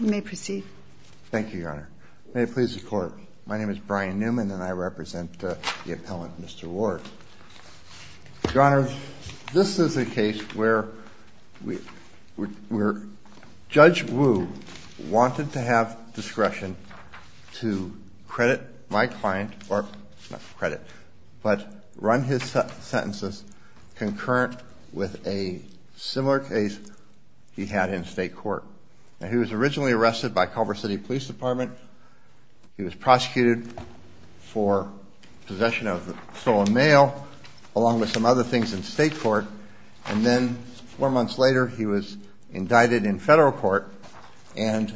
You may proceed. Thank you, Your Honor. May it please the Court, my name is Brian Newman and I represent the appellant Mr. Ward. Your Honor, this is a case where Judge Wu wanted to have discretion to credit my client, or not credit, but run his sentences concurrent with a similar case he had in state court. He was originally arrested by Culver City Police Department. He was prosecuted for possession of stolen mail, along with some other things in state court. And then four months later he was indicted in federal court and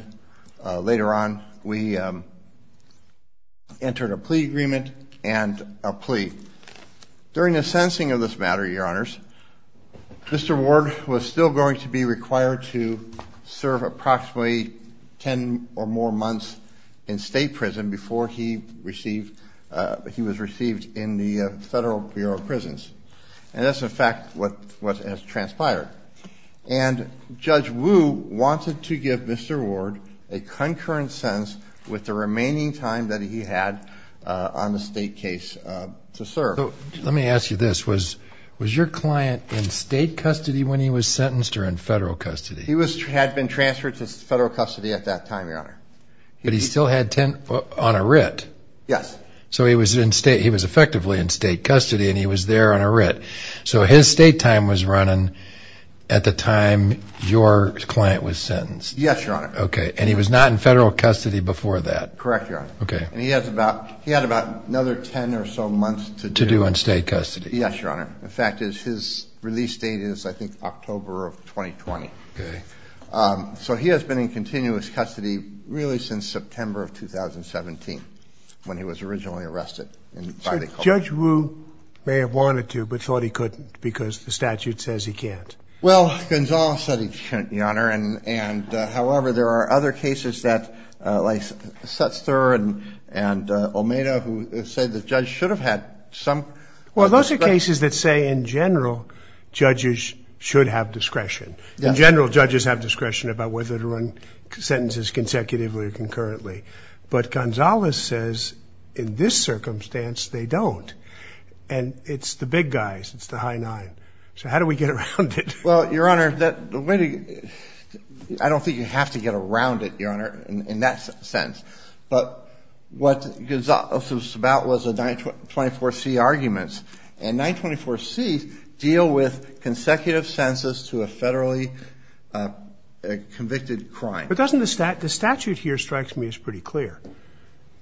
later on we entered a plea agreement and a plea. During the sentencing of this matter, Your Honors, Mr. Ward was still going to be required to serve approximately ten or more months in state prison before he was received in the Federal Bureau of Prisons. And that's, in fact, what has transpired. And Judge Wu wanted to give Mr. Ward a concurrent sentence with the remaining time that he had on the state case to serve. Let me ask you this. Was your client in state custody when he was sentenced or in federal custody? He had been transferred to federal custody at that time, Your Honor. But he still had ten on a writ? Yes. So he was effectively in state custody and he was there on a writ. So his state time was running at the time your client was sentenced? Yes, Your Honor. Okay. And he was not in federal custody before that? Correct, Your Honor. Okay. And he had about another ten or so months to do in state custody. Yes, Your Honor. In fact, his release date is, I think, October of 2020. Okay. So he has been in continuous custody really since September of 2017 when he was originally arrested. Judge Wu may have wanted to but thought he couldn't because the statute says he can't. Well, Gonzales said he couldn't, Your Honor. However, there are other cases like Setzer and Omeda who say the judge should have had some discretion. There are cases that say, in general, judges should have discretion. In general, judges have discretion about whether to run sentences consecutively or concurrently. But Gonzales says, in this circumstance, they don't. And it's the big guys. It's the high nine. So how do we get around it? Well, Your Honor, I don't think you have to get around it, Your Honor, in that sense. But what Gonzales was about was the 924C arguments. And 924Cs deal with consecutive sentences to a federally convicted crime. But doesn't the statute here, it strikes me, is pretty clear.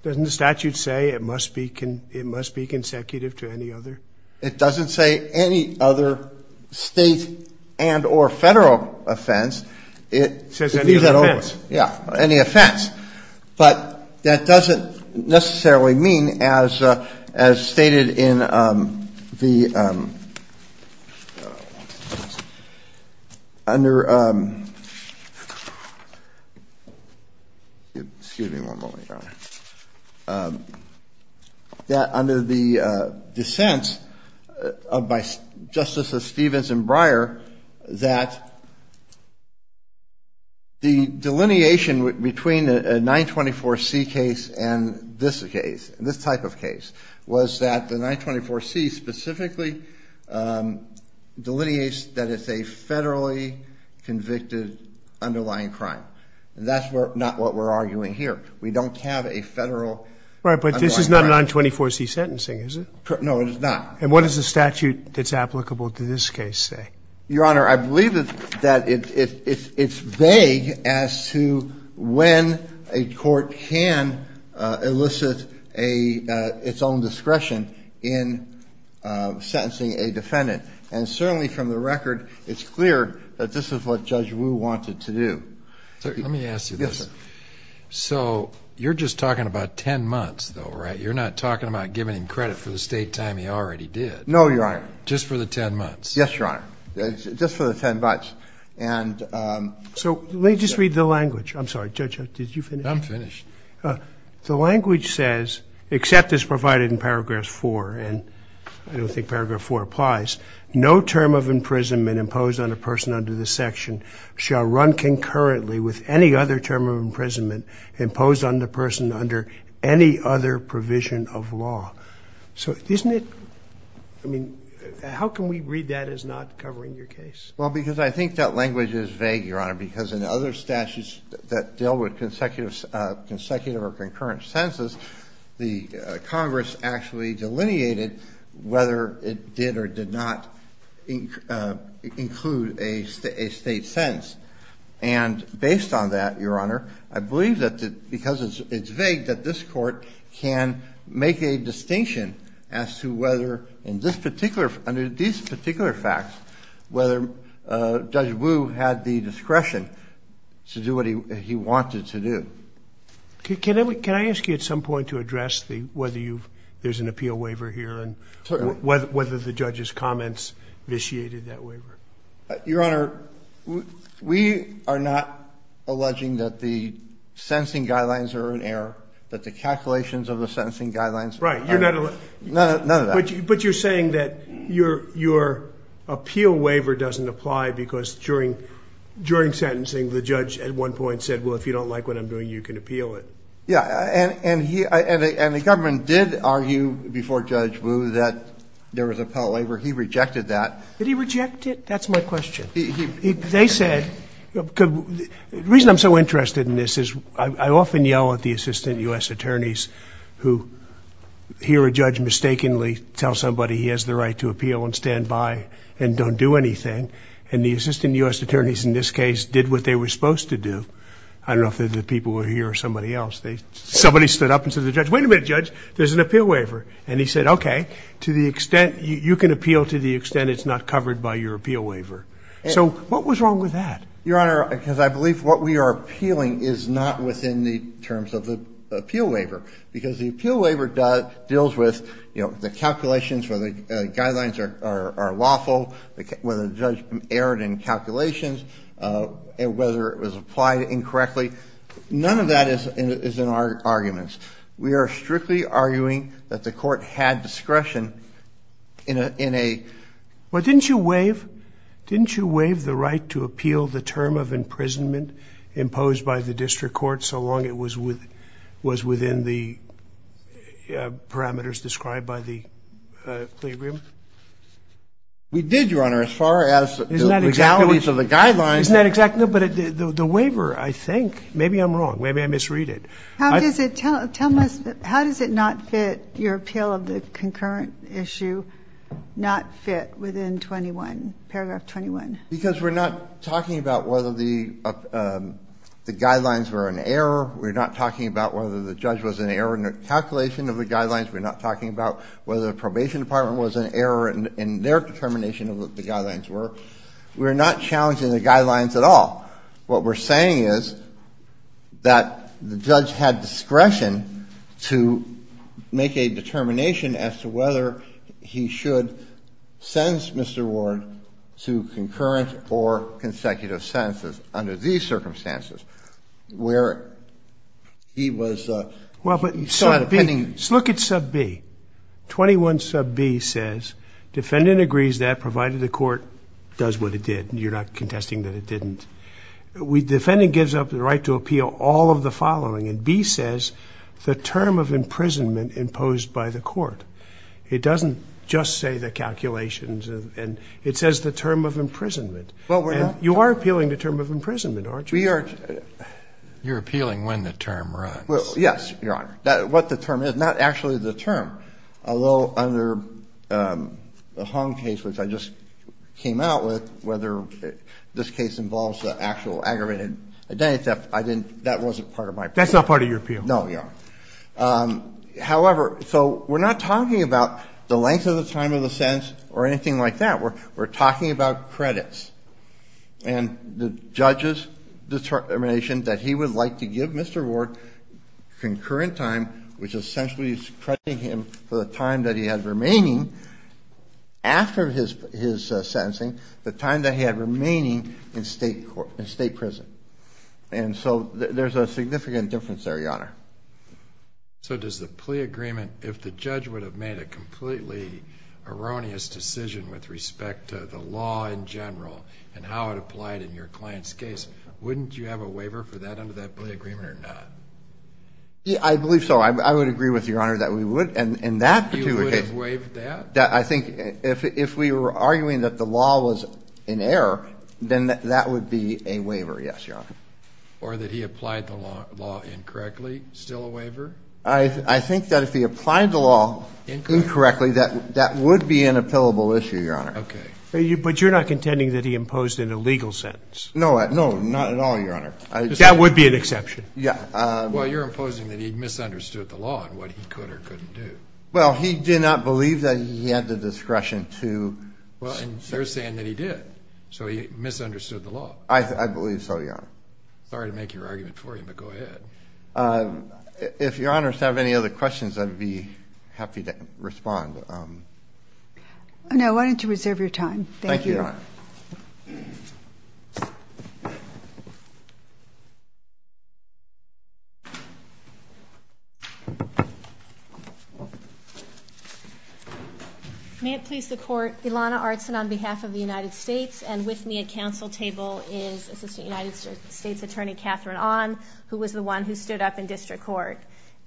Doesn't the statute say it must be consecutive to any other? It doesn't say any other state and or federal offense. It leaves that open. It says any offense. Yeah, any offense. But that doesn't necessarily mean, as stated in the under the dissents of Justices Stevens and Breyer, that the delineation between a 924C case and this case, this type of case, was that the 924C specifically delineates that it's a federally convicted underlying crime. And that's not what we're arguing here. We don't have a federal underlying crime. Right, but this is not a 924C sentencing, is it? No, it is not. And what does the statute that's applicable to this case say? Your Honor, I believe that it's vague as to when a court can elicit its own discretion in sentencing a defendant. And certainly from the record, it's clear that this is what Judge Wu wanted to do. Let me ask you this. Yes, sir. So you're just talking about 10 months, though, right? You're not talking about giving him credit for the state time he already did. No, Your Honor. Just for the 10 months. Yes, Your Honor. Just for the 10 months. And so let me just read the language. I'm sorry. Judge, did you finish? I'm finished. The language says, except as provided in Paragraph 4, and I don't think Paragraph 4 applies, no term of imprisonment imposed on a person under this section shall run concurrently with any other term of imprisonment imposed on the person under any other provision of law. So isn't it – I mean, how can we read that as not covering your case? Well, because I think that language is vague, Your Honor, because in other statutes that deal with consecutive or concurrent sentences, the Congress actually delineated whether it did or did not include a state sentence. And based on that, Your Honor, I believe that because it's vague, that this Court can make a distinction as to whether under these particular facts, whether Judge Wu had the discretion to do what he wanted to do. Can I ask you at some point to address whether there's an appeal waiver here and whether the judge's comments vitiated that waiver? Your Honor, we are not alleging that the sentencing guidelines are in error, that the calculations of the sentencing guidelines are in error. Right. You're not – None of that. But you're saying that your appeal waiver doesn't apply because during sentencing, the judge at one point said, well, if you don't like what I'm doing, you can appeal it. Yeah. And he – and the government did argue before Judge Wu that there was an appeal waiver. He rejected that. Did he reject it? That's my question. They said – the reason I'm so interested in this is I often yell at the assistant U.S. attorneys who hear a judge mistakenly tell somebody he has the right to appeal and stand by and don't do anything. And the assistant U.S. attorneys in this case did what they were supposed to do. I don't know if they're the people here or somebody else. Somebody stood up and said to the judge, wait a minute, Judge, there's an appeal waiver. And he said, okay, to the extent – you can appeal to the extent it's not covered by your appeal waiver. So what was wrong with that? Your Honor, because I believe what we are appealing is not within the terms of the appeal waiver because the appeal waiver deals with, you know, the calculations where the guidelines are lawful, whether the judge erred in calculations, whether it was applied incorrectly. None of that is in our arguments. We are strictly arguing that the court had discretion in a – in a – Well, didn't you waive – didn't you waive the right to appeal the term of imprisonment imposed by the district court so long it was with – was within the parameters described by the plea agreement? We did, Your Honor, as far as the legalities of the guidelines. Isn't that exactly – no, but the waiver, I think – maybe I'm wrong. Maybe I misread it. How does it – tell us – how does it not fit your appeal of the concurrent issue, not fit within 21, paragraph 21? Because we're not talking about whether the guidelines were an error. We're not talking about whether the judge was an error in the calculation of the guidelines. We're not talking about whether the probation department was an error in their determination of what the guidelines were. We're not challenging the guidelines at all. What we're saying is that the judge had discretion to make a determination as to whether he should sentence Mr. Ward to concurrent or consecutive sentences under these circumstances, where he was – Well, but sub B – look at sub B. 21 sub B says defendant agrees that, provided the court does what it did. You're not contesting that it didn't. Defendant gives up the right to appeal all of the following, and B says the term of imprisonment imposed by the court. It doesn't just say the calculations, and it says the term of imprisonment. Well, we're not – You are appealing the term of imprisonment, aren't you? We are – You're appealing when the term runs. Well, yes, Your Honor. What the term is, not actually the term, although under the Hong case, which I just came out with, whether this case involves the actual aggravated identity theft, I didn't – that wasn't part of my appeal. That's not part of your appeal. No, Your Honor. However, so we're not talking about the length of the time of the sentence or anything like that. We're talking about credits, and the judge's determination that he would like to give Mr. Ward concurrent time, which essentially is crediting him for the time that he has remaining after his sentencing, the time that he had remaining in state prison. And so there's a significant difference there, Your Honor. So does the plea agreement – if the judge would have made a completely erroneous decision with respect to the law in general and how it applied in your client's case, wouldn't you have a waiver for that under that plea agreement or not? I believe so. I would agree with Your Honor that we would, and that particular case – He would have waived that? I think if we were arguing that the law was in error, then that would be a waiver, yes, Your Honor. Or that he applied the law incorrectly, still a waiver? I think that if he applied the law incorrectly, that would be an appealable issue, Your Honor. Okay. But you're not contending that he imposed an illegal sentence? No, not at all, Your Honor. That would be an exception. Yeah. Well, you're imposing that he misunderstood the law and what he could or couldn't do. Well, he did not believe that he had the discretion to – Well, and they're saying that he did, so he misunderstood the law. I believe so, Your Honor. Sorry to make your argument for you, but go ahead. If Your Honors have any other questions, I'd be happy to respond. Thank you. Thank you, Your Honor. Thank you. May it please the Court, Ilana Artson on behalf of the United States, and with me at council table is Assistant United States Attorney Catherine Ahn, who was the one who stood up in district court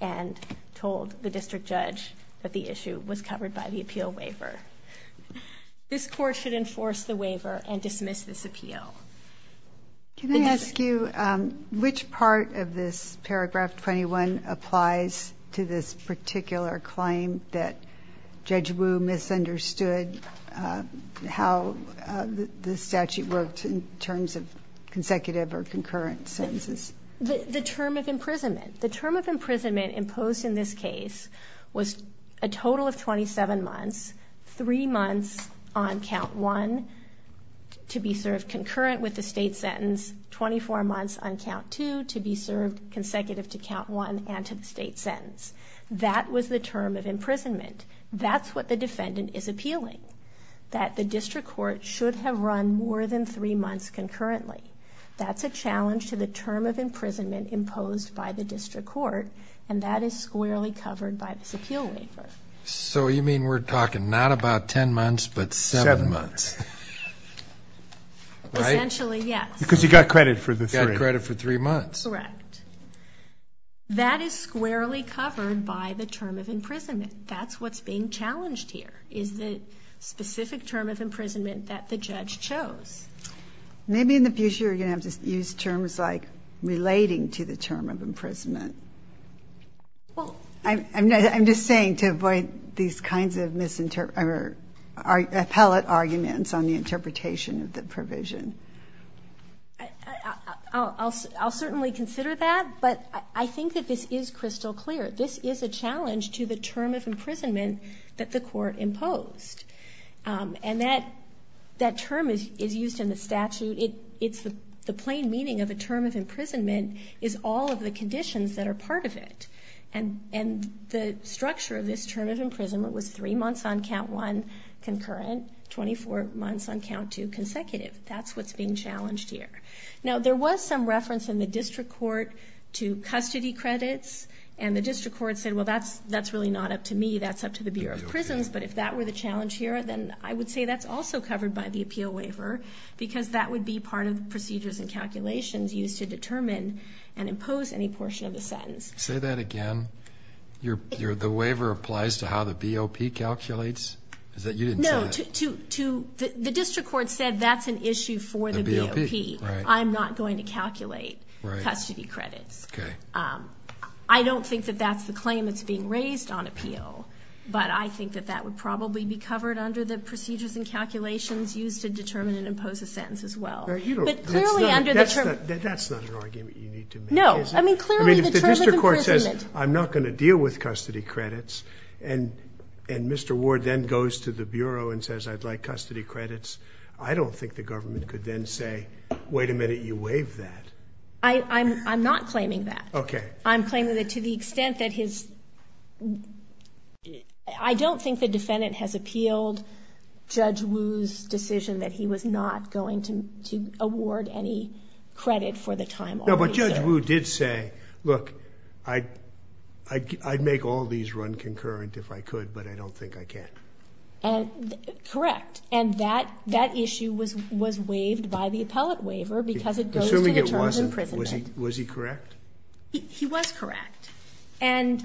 and told the district judge that the issue was covered by the appeal waiver. This Court should enforce the waiver and dismiss this appeal. Can I ask you which part of this paragraph 21 applies to this particular claim that Judge Wu misunderstood how the statute worked in terms of consecutive or concurrent sentences? The term of imprisonment. The term of imprisonment imposed in this case was a total of 27 months, three months on count one to be served concurrent with the state sentence, 24 months on count two to be served consecutive to count one and to the state sentence. That was the term of imprisonment. That's what the defendant is appealing, that the district court should have run more than three months concurrently. That's a challenge to the term of imprisonment imposed by the district court, and that is squarely covered by this appeal waiver. So you mean we're talking not about ten months, but seven months. Seven months. Essentially, yes. Because he got credit for the three. He got credit for three months. Correct. That is squarely covered by the term of imprisonment. That's what's being challenged here, is the specific term of imprisonment that the judge chose. Maybe in the future you're going to have to use terms like relating to the term of imprisonment. I'm just saying to avoid these kinds of appellate arguments on the interpretation of the provision. I'll certainly consider that, but I think that this is crystal clear. This is a challenge to the term of imprisonment that the court imposed, and that term is used in the statute. The plain meaning of the term of imprisonment is all of the conditions that are part of it. And the structure of this term of imprisonment was three months on count one, concurrent, 24 months on count two, consecutive. That's what's being challenged here. Now, there was some reference in the district court to custody credits, and the district court said, well, that's really not up to me. That's up to the Bureau of Prisons. But if that were the challenge here, then I would say that's also covered by the appeal waiver, because that would be part of the procedures and calculations used to determine and impose any portion of the sentence. Say that again? The waiver applies to how the BOP calculates? No, the district court said that's an issue for the BOP. I'm not going to calculate custody credits. I don't think that that's the claim that's being raised on appeal, but I think that that would probably be covered under the procedures and calculations used to determine and impose a sentence as well. That's not an argument you need to make, is it? No. I mean, clearly the term of imprisonment. I mean, if the district court says, I'm not going to deal with custody credits, and Mr. Ward then goes to the Bureau and says, I'd like custody credits, I don't think the government could then say, wait a minute, you waived that. I'm not claiming that. Okay. I'm claiming that to the extent that his ‑‑ I don't think the defendant has appealed Judge Wu's decision that he was not going to award any credit for the time already served. No, but Judge Wu did say, look, I'd make all these run concurrent if I could, but I don't think I can. Correct. And that issue was waived by the appellate waiver because it goes to the terms of imprisonment. Assuming it wasn't. Was he correct? He was correct. And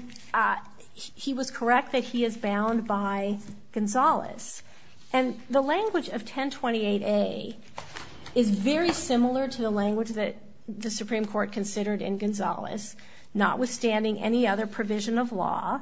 he was correct that he is bound by Gonzales. And the language of 1028A is very similar to the language that the Supreme Court considered in Gonzales. Notwithstanding any other provision of law,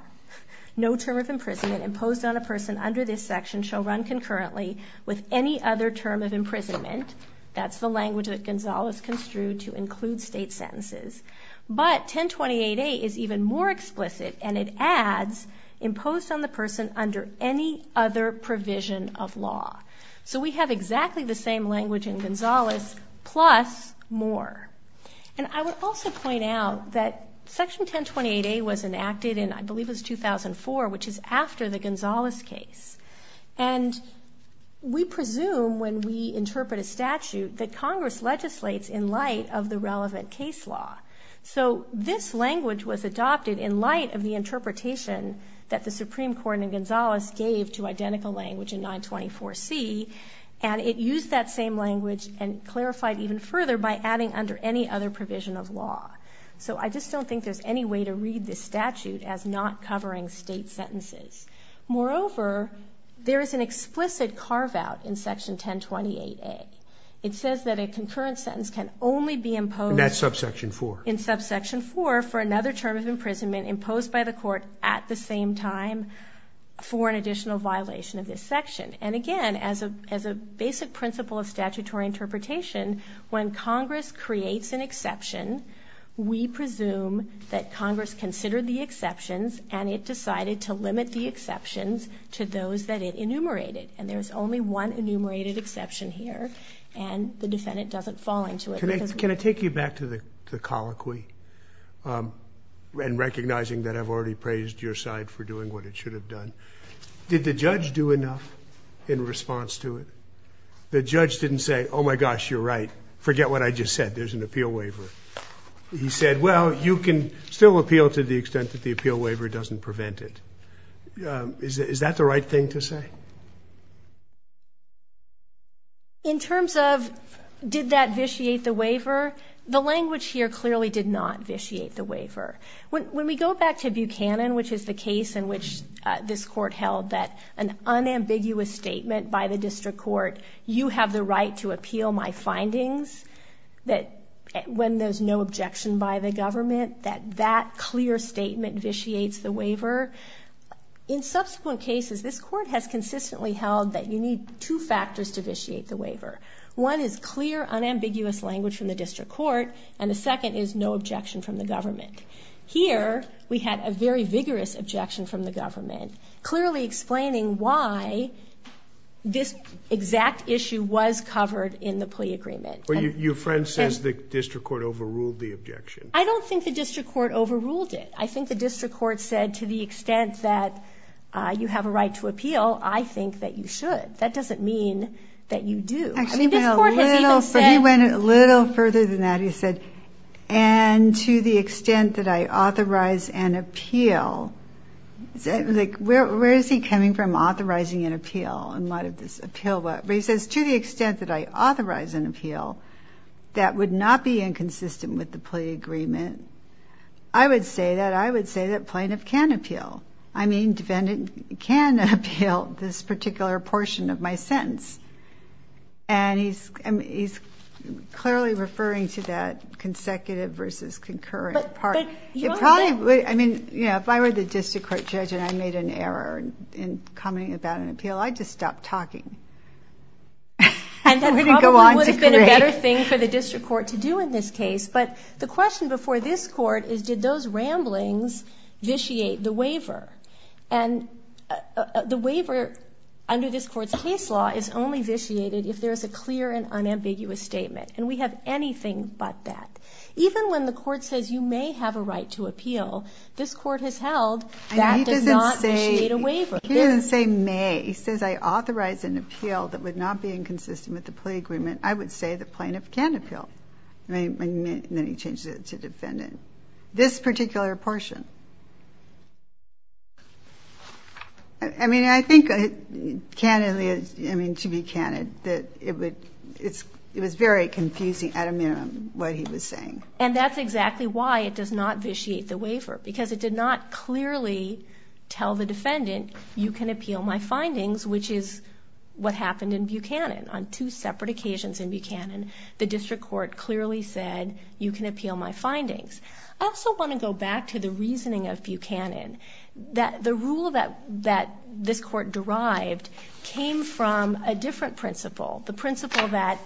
no term of imprisonment imposed on a person under this section shall run concurrently with any other term of imprisonment. That's the language that Gonzales construed to include state sentences. But 1028A is even more explicit, and it adds imposed on the person under any other provision of law. So we have exactly the same language in Gonzales plus more. And I would also point out that Section 1028A was enacted in, I believe it was 2004, which is after the Gonzales case. And we presume when we interpret a statute that Congress legislates in light of the relevant case law. So this language was adopted in light of the interpretation that the Supreme Court in Gonzales gave to identical language in 924C, and it used that same language and clarified even further by adding under any other provision of law. So I just don't think there's any way to read this statute as not covering state sentences. Moreover, there is an explicit carve-out in Section 1028A. It says that a concurrent sentence can only be imposed. In that subsection 4. In subsection 4 for another term of imprisonment imposed by the court at the same time for an additional violation of this section. And again, as a basic principle of statutory interpretation, when Congress creates an exception, we presume that Congress considered the exceptions and it decided to limit the exceptions to those that it enumerated. And there's only one enumerated exception here, and the defendant doesn't fall into it. Can I take you back to the colloquy and recognizing that I've already praised your side for doing what it should have done? Did the judge do enough in response to it? The judge didn't say, oh, my gosh, you're right. Forget what I just said. There's an appeal waiver. He said, well, you can still appeal to the extent that the appeal waiver doesn't prevent it. Is that the right thing to say? In terms of did that vitiate the waiver, the language here clearly did not vitiate the waiver. When we go back to Buchanan, which is the case in which this court held that an unambiguous statement by the district court, you have the right to appeal my findings, when there's no objection by the government, that that clear statement vitiates the waiver. In subsequent cases, this court has consistently held that you need two factors to vitiate the waiver. One is clear, unambiguous language from the district court, and the second is no objection from the government. Here, we had a very vigorous objection from the government, clearly explaining why this exact issue was covered in the plea agreement. Your friend says the district court overruled the objection. I don't think the district court overruled it. I think the district court said to the extent that you have a right to appeal, I think that you should. That doesn't mean that you do. Actually, he went a little further than that. He said, and to the extent that I authorize an appeal, where is he coming from, authorizing an appeal? He says, to the extent that I authorize an appeal that would not be inconsistent with the plea agreement, I would say that plaintiff can appeal. Defendant can appeal this particular portion of my sentence. He's clearly referring to that consecutive versus concurrent part. If I were the district court judge and I made an error in commenting about an appeal, I'd just stop talking. That probably would have been a better thing for the district court to do in this case. But the question before this court is, did those ramblings vitiate the waiver? And the waiver under this court's case law is only vitiated if there is a clear and unambiguous statement, and we have anything but that. Even when the court says you may have a right to appeal, this court has held that does not vitiate a waiver. He doesn't say may. He says I authorize an appeal that would not be inconsistent with the plea agreement, I would say that plaintiff can appeal. And then he changes it to defendant. This particular portion. I mean, I think, candidly, I mean, to be candid, that it was very confusing, at a minimum, what he was saying. And that's exactly why it does not vitiate the waiver, because it did not clearly tell the defendant, you can appeal my findings, which is what happened in Buchanan. On two separate occasions in Buchanan, the district court clearly said you can appeal my findings. I also want to go back to the reasoning of Buchanan, that the rule that this court derived came from a different principle, the principle that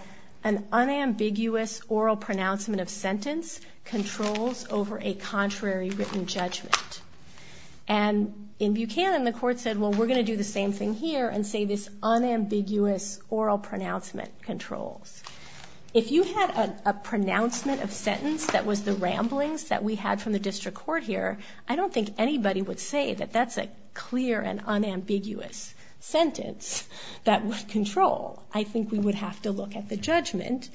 an unambiguous oral pronouncement of sentence controls over a contrary written judgment. And in Buchanan, the court said, well, we're going to do the same thing here and say this unambiguous oral pronouncement controls. If you had a pronouncement of sentence that was the ramblings that we had from the district court here, I don't think anybody would say that that's a clear and unambiguous sentence that would control. I think we would have to look at the judgment,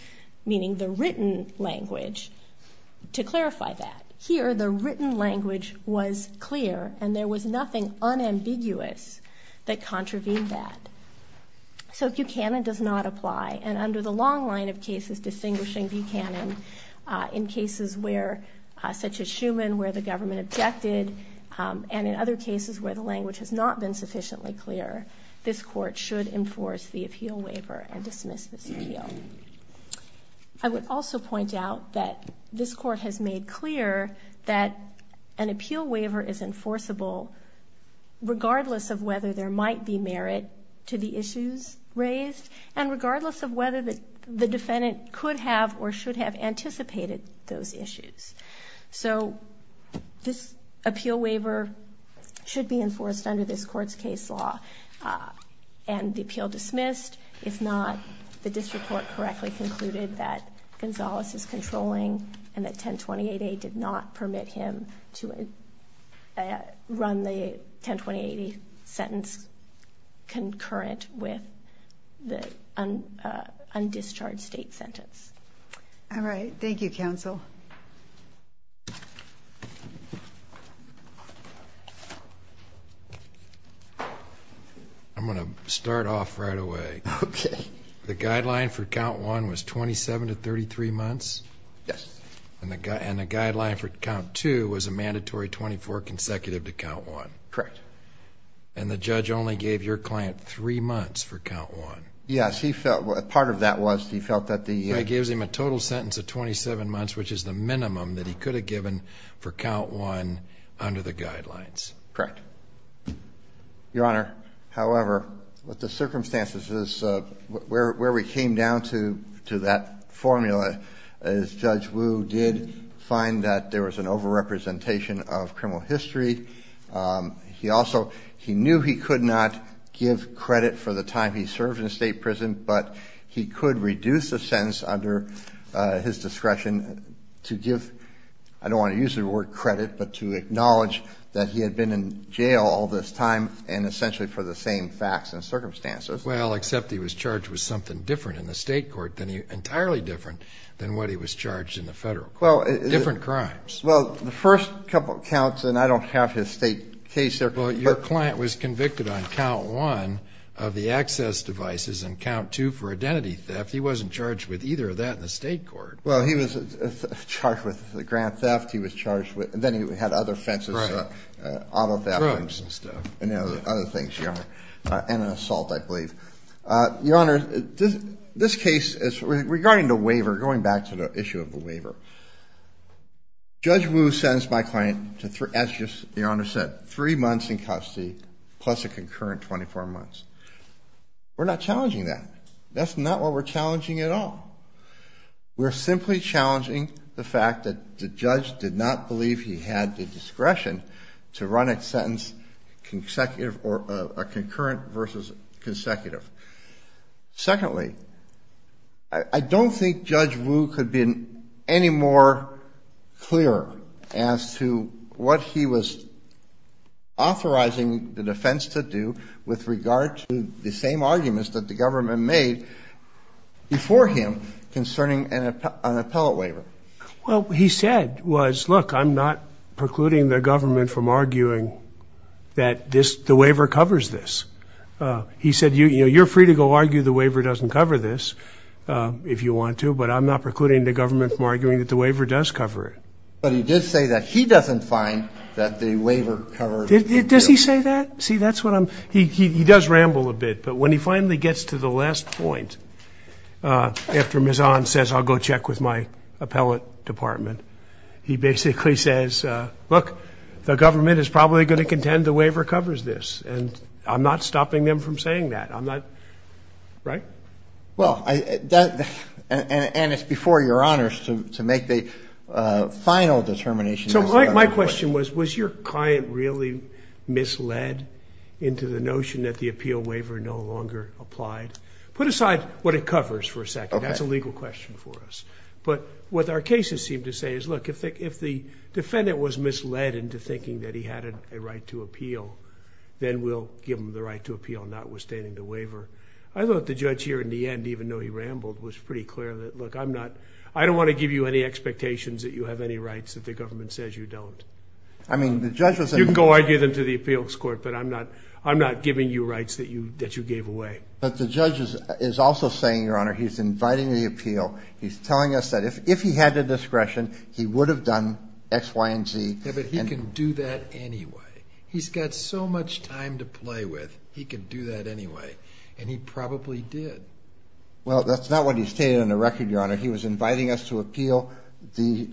meaning the written language, to clarify that. Here, the written language was clear and there was nothing unambiguous that contravened that. So Buchanan does not apply, and under the long line of cases distinguishing Buchanan, in cases such as Schuman where the government objected and in other cases where the language has not been sufficiently clear, this court should enforce the appeal waiver and dismiss this appeal. I would also point out that this court has made clear that an appeal waiver is enforceable regardless of whether there might be merit to the issues raised and regardless of whether the defendant could have or should have anticipated those issues. So this appeal waiver should be enforced under this court's case law, and the appeal dismissed. If not, the district court correctly concluded that Gonzalez is controlling and that 1028A did not permit him to run the 1028A sentence concurrent with the undischarged state sentence. All right. Thank you, counsel. I'm going to start off right away. Okay. The guideline for count one was 27 to 33 months? Yes. And the guideline for count two was a mandatory 24 consecutive to count one? Correct. And the judge only gave your client three months for count one? Yes. Part of that was he felt that the ---- It gives him a total sentence of 27 months, which is the minimum that he could have given for count one under the guidelines. Correct. Your Honor, however, with the circumstances, where we came down to that formula is Judge Wu did find that there was an overrepresentation of criminal history. He also knew he could not give credit for the time he served in a state prison, but he could reduce the sentence under his discretion to give, I don't want to use the word credit, but to acknowledge that he had been in jail all this time and essentially for the same facts and circumstances. Well, except he was charged with something different in the state court, entirely different than what he was charged in the federal court, different crimes. Well, the first couple of counts, and I don't have his state case there. Well, your client was convicted on count one of the access devices and count two for identity theft. He wasn't charged with either of that in the state court. Well, he was charged with the grant theft. Then he had other offenses out of that. Drugs and stuff. And other things, your Honor, and an assault, I believe. Your Honor, this case is regarding the waiver, going back to the issue of the waiver. Judge Wu sentenced my client to, as your Honor said, three months in custody plus a concurrent 24 months. We're not challenging that. That's not what we're challenging at all. We're simply challenging the fact that the judge did not believe he had the discretion to run a sentence consecutive or a concurrent versus consecutive. Secondly, I don't think Judge Wu could have been any more clear as to what he was authorizing the defense to do with regard to the same arguments that the government made before him concerning an appellate waiver. Well, what he said was, look, I'm not precluding the government from arguing that the waiver covers this. He said, you know, you're free to go argue the waiver doesn't cover this if you want to, but I'm not precluding the government from arguing that the waiver does cover it. But he did say that he doesn't find that the waiver covers it. Does he say that? See, that's what I'm he does ramble a bit. But when he finally gets to the last point, after Ms. Ahn says I'll go check with my appellate department, he basically says, look, the government is probably going to contend the waiver covers this. And I'm not stopping them from saying that. I'm not, right? Well, and it's before your honors to make the final determination. So my question was, was your client really misled into the notion that the appeal waiver no longer applied? Put aside what it covers for a second. That's a legal question for us. But what our cases seem to say is, look, if the defendant was misled into thinking that he had a right to appeal, then we'll give him the right to appeal notwithstanding the waiver. I thought the judge here in the end, even though he rambled, was pretty clear that, look, I don't want to give you any expectations that you have any rights that the government says you don't. You can go argue them to the appeals court, but I'm not giving you rights that you gave away. But the judge is also saying, your honor, he's inviting the appeal. He's telling us that if he had the discretion, he would have done X, Y, and Z. Yeah, but he can do that anyway. He's got so much time to play with. He can do that anyway. And he probably did. Well, that's not what he stated on the record, your honor. He was inviting us to appeal the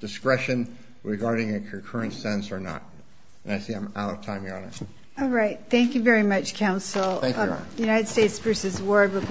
discretion regarding a concurrent sentence or not. And I see I'm out of time, your honor. All right. Thank you very much, counsel. Thank you, your honor.